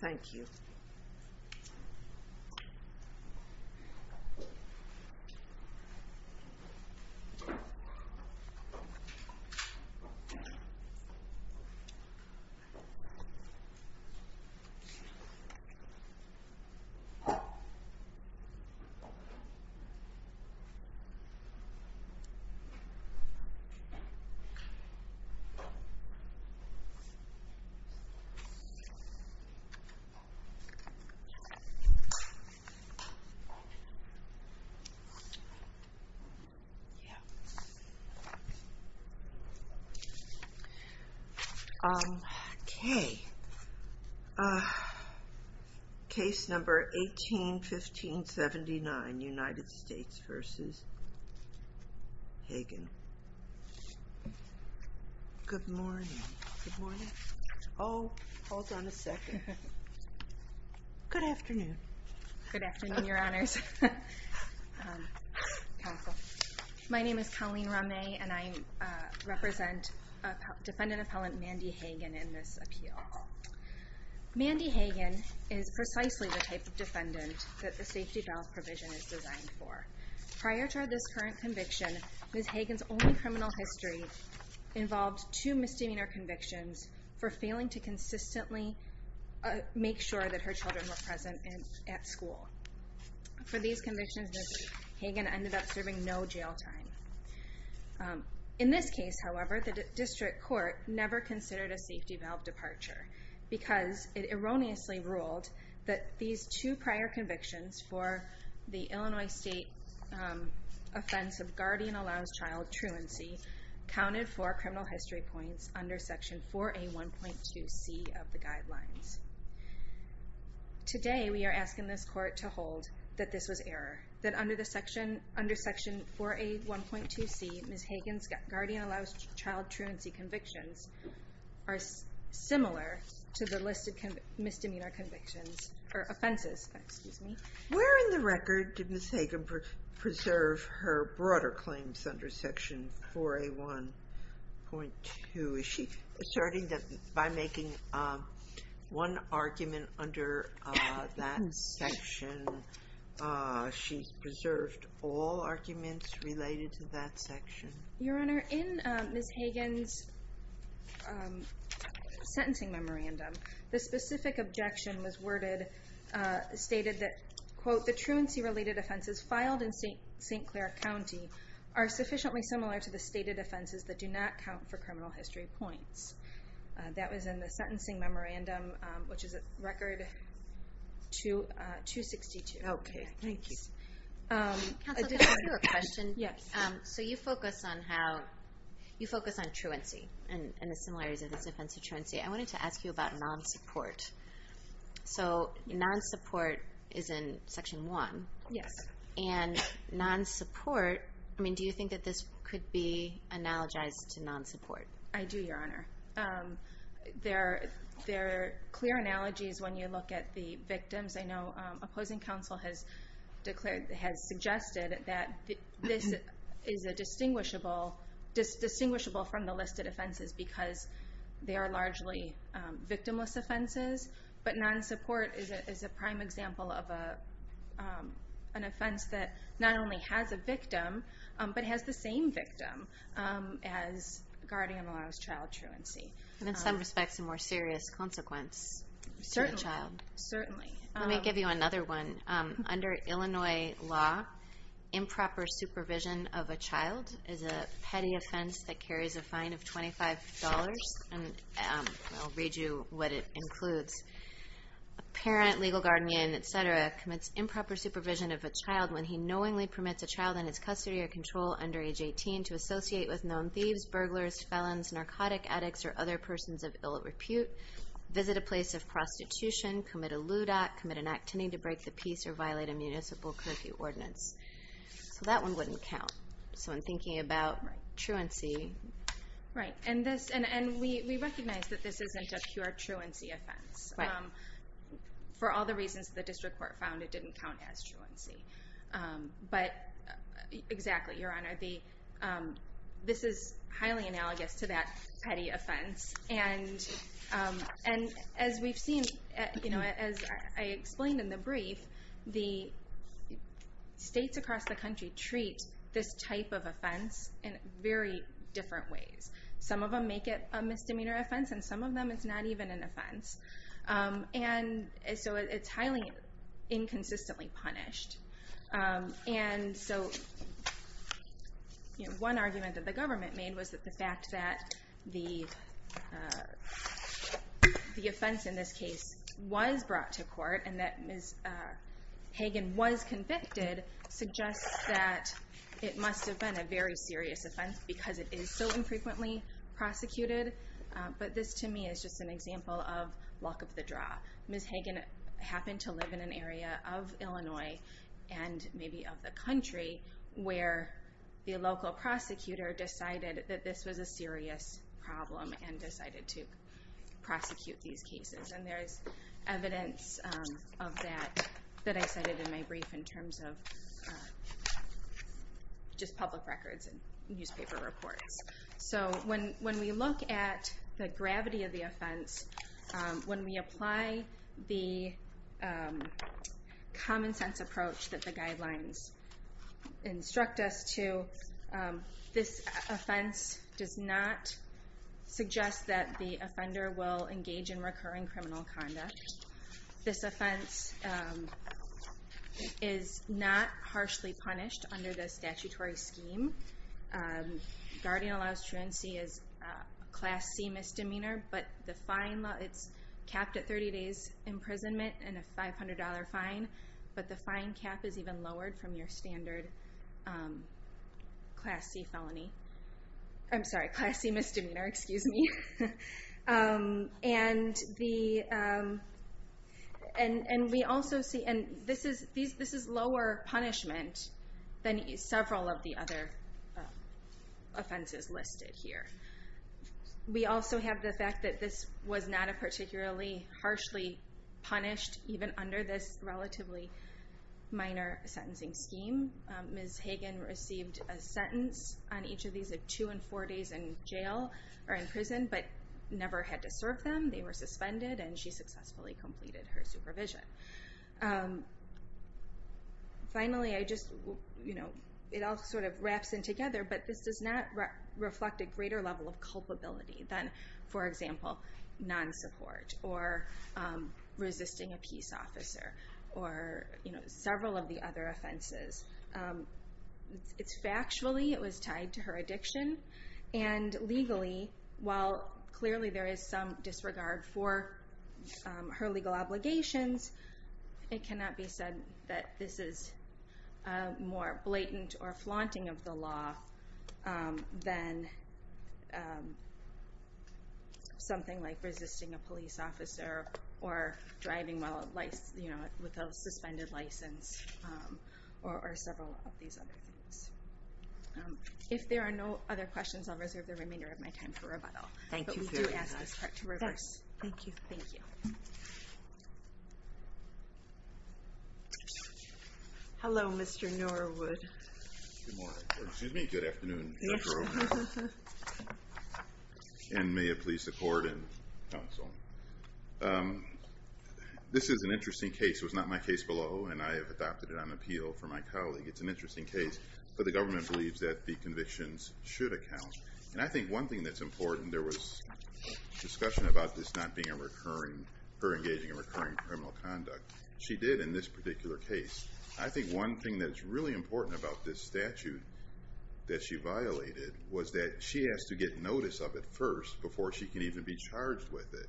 Thank you. Okay. Case number 181579, United States v. Hagen. Good morning. Good morning. Oh, hold on a second. Good afternoon. Good afternoon, Your Honors. My name is Colleen Ramay, and I represent Defendant Appellant Mandy Hagen in this appeal. Mandy Hagen is precisely the type of defendant that the safety valve provision is designed for. Prior to this current conviction, Ms. Hagen's only criminal history involved two misdemeanor convictions for failing to consistently make sure that her children were present at school. For these convictions, Ms. Hagen ended up serving no jail time. In this case, however, the district court never considered a safety valve departure because it erroneously ruled that these two prior convictions for the Illinois State offense of guardian allows child truancy counted for criminal history points under Section 4A.1.2.C of the guidelines. Today, we are asking this court to hold that this was error, that under Section 4A.1.2.C, Ms. Hagen's guardian allows child truancy convictions are similar to the listed misdemeanor convictions or offenses. Where in the record did Ms. Hagen preserve her broader claims under Section 4A.1.2? Is she asserting that by making one argument under that section, she preserved all arguments related to that section? Your Honor, in Ms. Hagen's sentencing memorandum, the specific objection was worded, stated that, quote, the truancy-related offenses filed in St. Clair County are sufficiently similar to the stated offenses that do not count for criminal history points. That was in the sentencing memorandum, which is Record 262. Okay, thank you. Counsel, can I ask you a question? Yes. So you focus on truancy and the similarities of this offense to truancy. I wanted to ask you about non-support. So non-support is in Section 1. Yes. And non-support, I mean, do you think that this could be analogized to non-support? I do, Your Honor. There are clear analogies when you look at the victims. I know opposing counsel has suggested that this is distinguishable from the listed offenses because they are largely victimless offenses. But non-support is a prime example of an offense that not only has a victim but has the same victim as guardian allows child truancy. And in some respects a more serious consequence for the child. Certainly. Let me give you another one. Under Illinois law, improper supervision of a child is a petty offense that carries a fine of $25. I'll read you what it includes. A parent, legal guardian, et cetera, commits improper supervision of a child when he knowingly permits a child in his custody or control under age 18 to associate with known thieves, burglars, felons, narcotic addicts, or other persons of ill repute, visit a place of prostitution, commit a lewd act, commit an act tending to break the peace, or violate a municipal curfew ordinance. So that one wouldn't count. So I'm thinking about truancy. Right. And we recognize that this isn't a pure truancy offense. Right. For all the reasons the district court found, it didn't count as truancy. But exactly, Your Honor. This is highly analogous to that petty offense. And as we've seen, as I explained in the brief, the states across the country treat this type of offense in very different ways. Some of them make it a misdemeanor offense, and some of them it's not even an offense. And so it's highly inconsistently punished. And so one argument that the government made was that the fact that the offense in this case was brought to court, and that Ms. Hagan was convicted, suggests that it must have been a very serious offense because it is so infrequently prosecuted. But this, to me, is just an example of luck of the draw. Ms. Hagan happened to live in an area of Illinois, and maybe of the country, where the local prosecutor decided that this was a serious problem, and decided to prosecute these cases. And there is evidence of that that I cited in my brief, in terms of just public records and newspaper reports. So when we look at the gravity of the offense, when we apply the common-sense approach that the guidelines instruct us to, this offense does not suggest that the offender will engage in recurring criminal conduct. This offense is not harshly punished under the statutory scheme. Guardian allows truancy is a Class C misdemeanor, but it's capped at 30 days imprisonment and a $500 fine. But the fine cap is even lowered from your standard Class C felony. I'm sorry, Class C misdemeanor, excuse me. And this is lower punishment than several of the other offenses listed here. We also have the fact that this was not a particularly harshly punished, even under this relatively minor sentencing scheme. Ms. Hagen received a sentence on each of these, of two and four days in jail or in prison, but never had to serve them. They were suspended, and she successfully completed her supervision. Finally, it all sort of wraps in together, but this does not reflect a greater level of culpability than, for example, non-support or resisting a peace officer or several of the other offenses. Factually, it was tied to her addiction, and legally, while clearly there is some disregard for her legal obligations, it cannot be said that this is more blatant or flaunting of the law than something like resisting a police officer or driving with a suspended license or several of these other things. If there are no other questions, I'll reserve the remainder of my time for rebuttal. But we do ask this court to reverse. Thank you. Hello, Mr. Norwood. Good morning. Excuse me. Good afternoon, Dr. O'Hara. And may it please the court and counsel. This is an interesting case. It was not my case below, and I have adopted it on appeal for my colleague. It's an interesting case, but the government believes that the convictions should account. And I think one thing that's important, there was discussion about this not being a recurring, her engaging in recurring criminal conduct. She did in this particular case. I think one thing that's really important about this statute that she violated was that she has to get notice of it first before she can even be charged with it.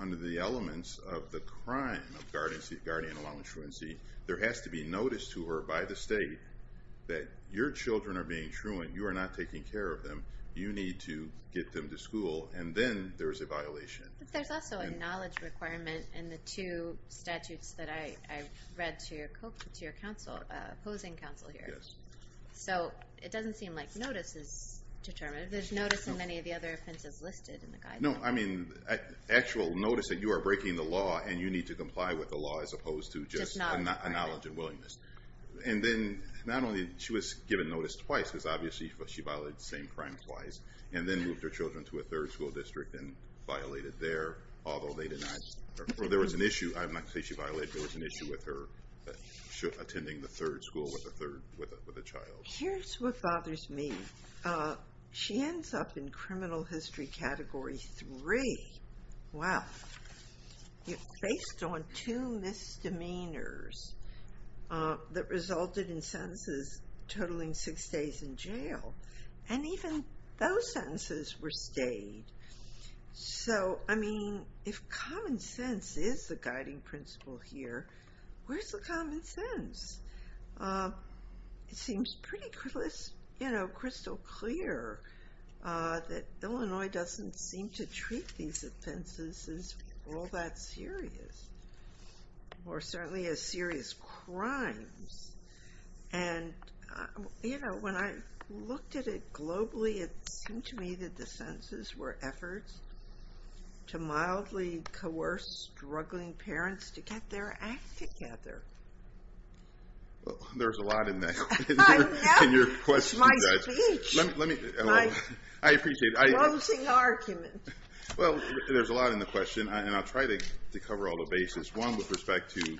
Under the elements of the crime of guardian law and truancy, there has to be notice to her by the state that your children are being truant, you are not taking care of them, you need to get them to school, and then there's a violation. But there's also a knowledge requirement in the two statutes that I read to your opposing counsel here. So it doesn't seem like notice is determined. There's notice in many of the other offenses listed in the guidance. No, I mean actual notice that you are breaking the law and you need to comply with the law as opposed to just a knowledge and willingness. And then not only she was given notice twice, because obviously she violated the same crime twice, and then moved her children to a third school district and violated there, or there was an issue, I'm not saying she violated, but there was an issue with her attending the third school with a child. Here's what bothers me. She ends up in criminal history category three. Wow. Based on two misdemeanors that resulted in sentences totaling six days in jail. And even those sentences were stayed. So, I mean, if common sense is the guiding principle here, where's the common sense? It seems pretty crystal clear that Illinois doesn't seem to treat these offenses as all that serious, or certainly as serious crimes. And, you know, when I looked at it globally, it seemed to me that the sentences were efforts to mildly coerce struggling parents to get their act together. Well, there's a lot in there. I know. It's my speech. I appreciate it. My closing argument. Well, there's a lot in the question, and I'll try to cover all the bases. One, with respect to,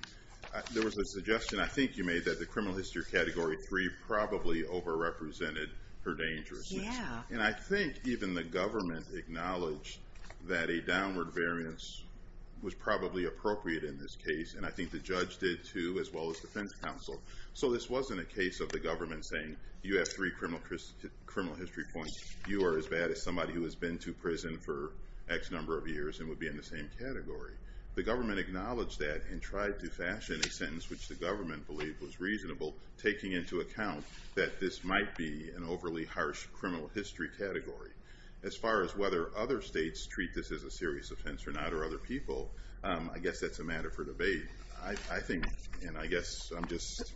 there was a suggestion I think you made that the criminal history category three probably overrepresented her dangers. Yeah. And I think even the government acknowledged that a downward variance was probably appropriate in this case, and I think the judge did, too, as well as defense counsel. So this wasn't a case of the government saying, you have three criminal history points, you are as bad as somebody who has been to prison for X number of years and would be in the same category. The government acknowledged that and tried to fashion a sentence which the government believed was reasonable, taking into account that this might be an overly harsh criminal history category. As far as whether other states treat this as a serious offense or not, or other people, I guess that's a matter for debate. I think, and I guess I'm just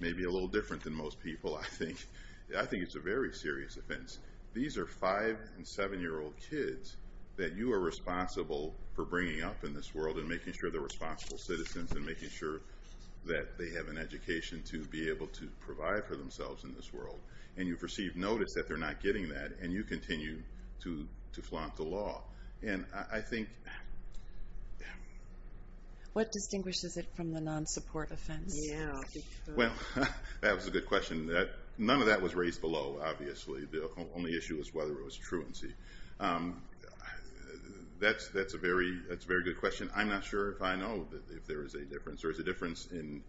maybe a little different than most people, I think it's a very serious offense. These are 5- and 7-year-old kids that you are responsible for bringing up in this world and making sure they're responsible citizens and making sure that they have an education to be able to provide for themselves in this world. And you've received notice that they're not getting that, and you continue to flaunt the law. And I think... What distinguishes it from the non-support offense? Well, that was a good question. None of that was raised below, obviously. The only issue was whether it was truancy. That's a very good question. I'm not sure if I know if there is a difference. There is a difference in...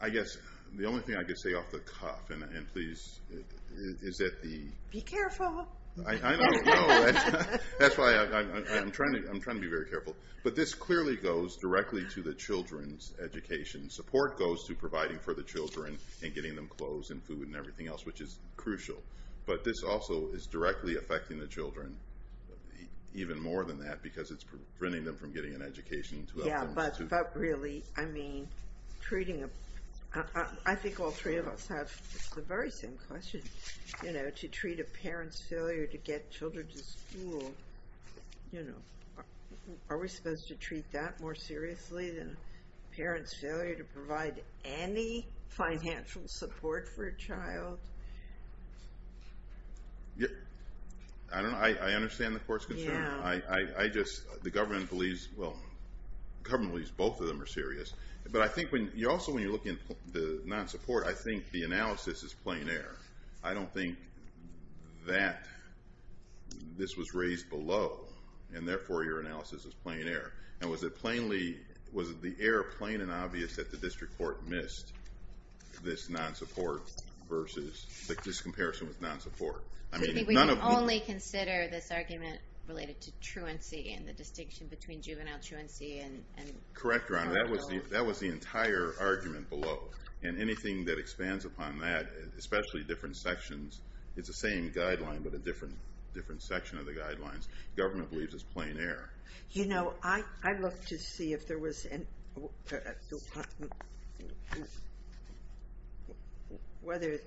I guess the only thing I could say off the cuff, and please, is that the... Be careful. I know. That's why I'm trying to be very careful. But this clearly goes directly to the children's education. Support goes to providing for the children and getting them clothes and food and everything else, which is crucial. But this also is directly affecting the children even more than that because it's preventing them from getting an education. Yeah, but really, I mean, treating a... I think all three of us have the very same question. To treat a parent's failure to get children to school, are we supposed to treat that more seriously than a parent's failure to provide any financial support for a child? I don't know. I understand the court's concern. Yeah. I just... The government believes... Well, the government believes both of them are serious. But I think also when you're looking at the non-support, I think the analysis is plain error. I don't think that this was raised below, and therefore your analysis is plain error. And was it plainly... Was the error plain and obvious that the district court missed this non-support versus this comparison with non-support? We can only consider this argument related to truancy and the distinction between juvenile truancy and... Correct, Your Honor. That was the entire argument below. And anything that expands upon that, especially different sections, it's the same guideline but a different section of the guidelines. The government believes it's plain error. You know, I looked to see if there was any... whether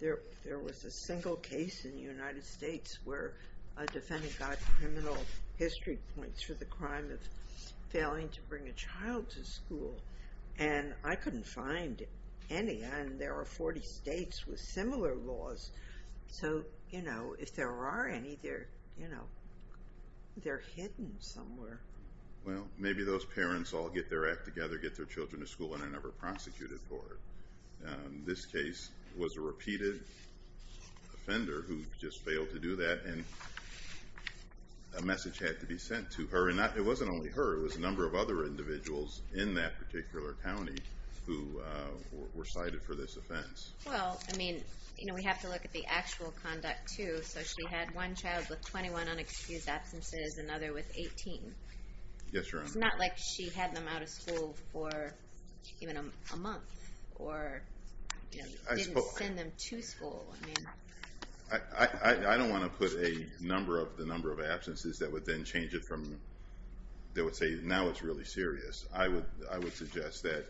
there was a single case in the United States where a defendant got criminal history points for the crime of failing to bring a child to school, and I couldn't find any, and there are 40 states with similar laws. So, you know, if there are any, they're hidden somewhere. Well, maybe those parents all get their act together, get their children to school, and are never prosecuted for it. This case was a repeated offender who just failed to do that, and a message had to be sent to her. It wasn't only her. It was a number of other individuals in that particular county who were cited for this offense. Well, I mean, we have to look at the actual conduct, too. So she had one child with 21 unexcused absences, another with 18. Yes, Your Honor. It's not like she had them out of school for even a month, or didn't send them to school. I don't want to put the number of absences that would then change it from... that would say, now it's really serious. I would suggest that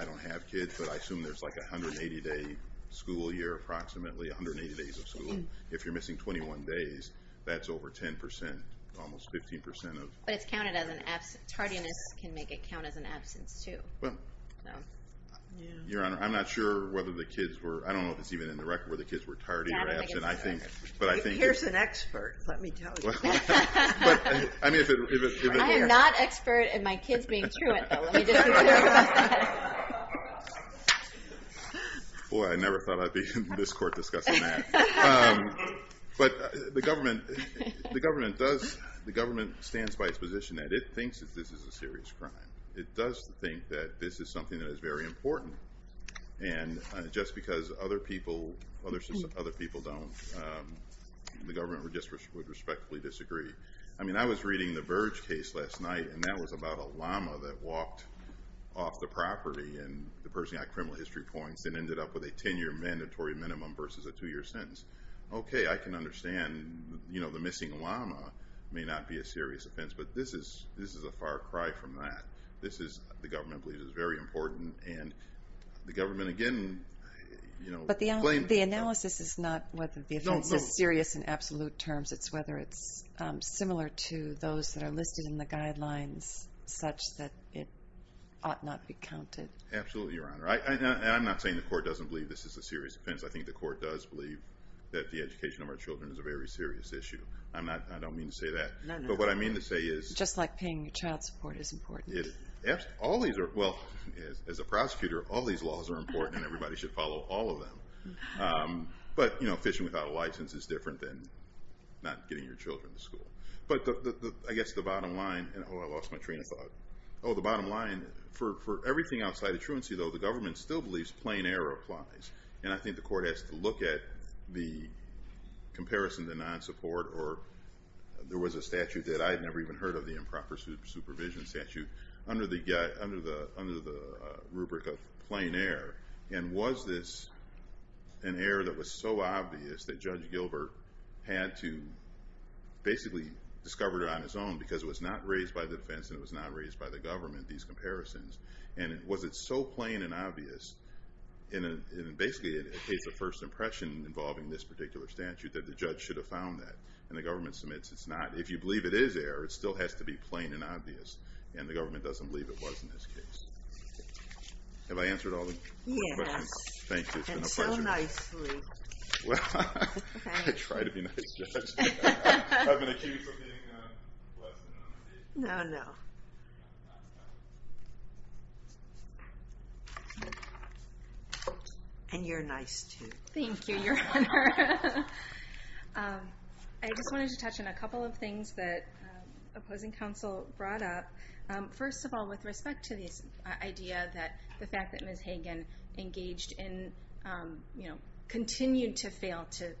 I don't have kids, but I assume there's like a 180-day school year approximately, 180 days of school. If you're missing 21 days, that's over 10%, almost 15%. But it's counted as an absence. Tardiness can make it count as an absence, too. Your Honor, I'm not sure whether the kids were... I don't know if it's even in the record where the kids were tardy or absent. Here's an expert. Let me tell you. I am not expert in my kids being truant, though. Boy, I never thought I'd be in this court discussing that. But the government does, the government stands by its position that it thinks that this is a serious crime. It does think that this is something that is very important. And just because other people don't, the government would respectfully disagree. I mean, I was reading the Burge case last night, and that was about a llama that walked off the property, and the person got criminal history points and ended up with a 10-year mandatory minimum versus a 2-year sentence. Okay, I can understand the missing llama may not be a serious offense, but this is a far cry from that. The government believes it's very important, and the government, again... But the analysis is not whether the offense is serious in absolute terms. It's whether it's similar to those that are listed in the guidelines, such that it ought not be counted. Absolutely, Your Honor. And I'm not saying the court doesn't believe this is a serious offense. I think the court does believe that the education of our children is a very serious issue. I don't mean to say that. No, no. But what I mean to say is... Just like paying child support is important. Well, as a prosecutor, all these laws are important, and everybody should follow all of them. But fishing without a license is different than not getting your children to school. But I guess the bottom line... Oh, I lost my train of thought. The bottom line, for everything outside of truancy, though, the government still believes plain error applies. And I think the court has to look at the comparison to non-support, or there was a statute that I had never even heard of, the improper supervision statute, under the rubric of plain error. And was this an error that was so obvious that Judge Gilbert had to basically discover it on his own, because it was not raised by the defense and it was not raised by the government, these comparisons. And was it so plain and obvious, and basically it takes a first impression involving this particular statute, that the judge should have found that. And the government submits it's not. If you believe it is error, it still has to be plain and obvious. And the government doesn't believe it was in this case. Have I answered all the questions? Yes. Thank you, it's been a pleasure. And so nicely. Well, I try to be nice, Judge. I've been accused of being less than honest. No, no. And you're nice, too. Thank you, Your Honor. I just wanted to touch on a couple of things that opposing counsel brought up. First of all, with respect to this idea that the fact that Ms. Hagen engaged in, continued to fail to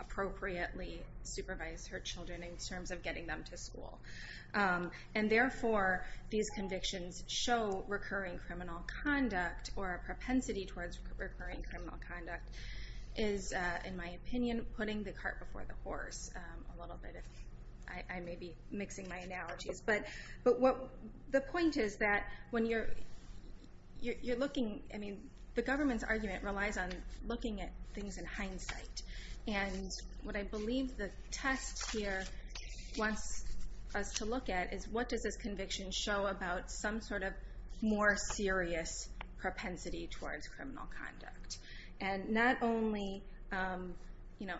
appropriately supervise her children in terms of getting them to school. And therefore, these convictions show recurring criminal conduct or a propensity towards recurring criminal conduct. Is, in my opinion, putting the cart before the horse a little bit. I may be mixing my analogies. But the point is that when you're looking, the government's argument relies on looking at things in hindsight. And what I believe the test here wants us to look at is, what does this conviction show about some sort of more serious propensity towards criminal conduct? And not only, I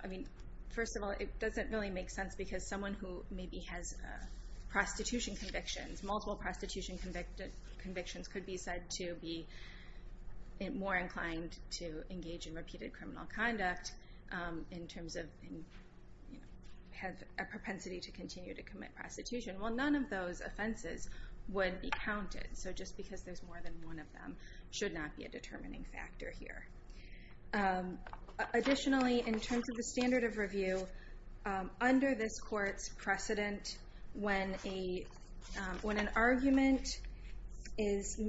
mean, first of all, it doesn't really make sense because someone who maybe has prostitution convictions, multiple prostitution convictions, could be said to be more inclined to engage in repeated criminal conduct in terms of a propensity to continue to commit prostitution. Well, none of those offenses would be counted. So just because there's more than one of them should not be a determining factor here. Additionally, in terms of the standard of review, under this court's precedent, when an argument is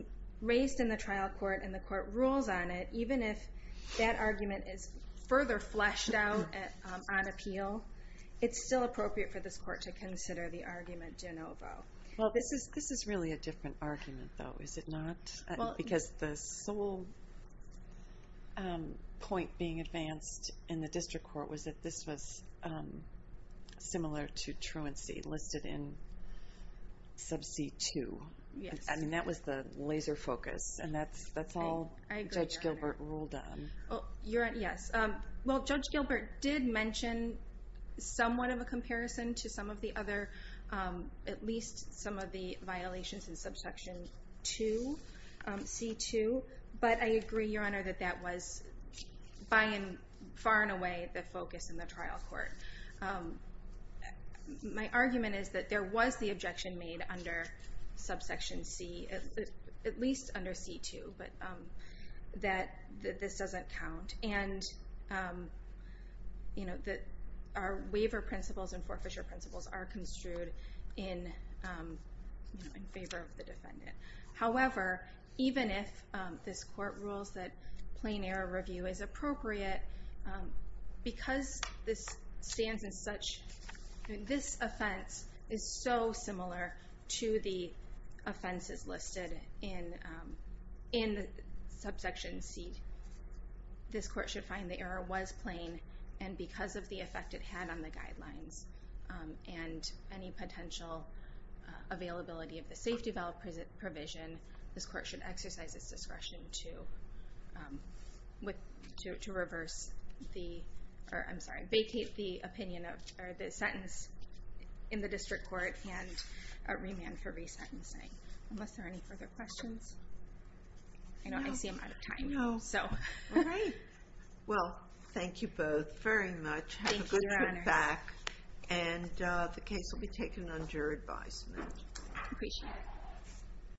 raised in the trial court and the court rules on it, even if that argument is further fleshed out on appeal, it's still appropriate for this court to consider the argument de novo. Well, this is really a different argument, though, is it not? Because the sole point being advanced in the district court was that this was similar to truancy listed in sub C2. I mean, that was the laser focus, and that's all Judge Gilbert ruled on. Yes. Well, Judge Gilbert did mention somewhat of a comparison to some of the other, at least some of the violations in subsection 2, C2. But I agree, Your Honor, that that was by and far and away the focus in the trial court. My argument is that there was the objection made under subsection C, at least under C2, but that this doesn't count. And that our waiver principles and forfeiture principles are construed in favor of the defendant. However, even if this court rules that plain error review is appropriate, because this stands as such, this offense is so similar to the offenses listed in subsection C, that this court should find the error was plain, and because of the effect it had on the guidelines and any potential availability of the safety valve provision, this court should exercise its discretion to vacate the sentence in the district court and remand for resentencing. Are there any further questions? I see I'm out of time. All right. Well, thank you both very much. Thank you, Your Honor. Have a good trip back, and the case will be taken under advisement. Appreciate it.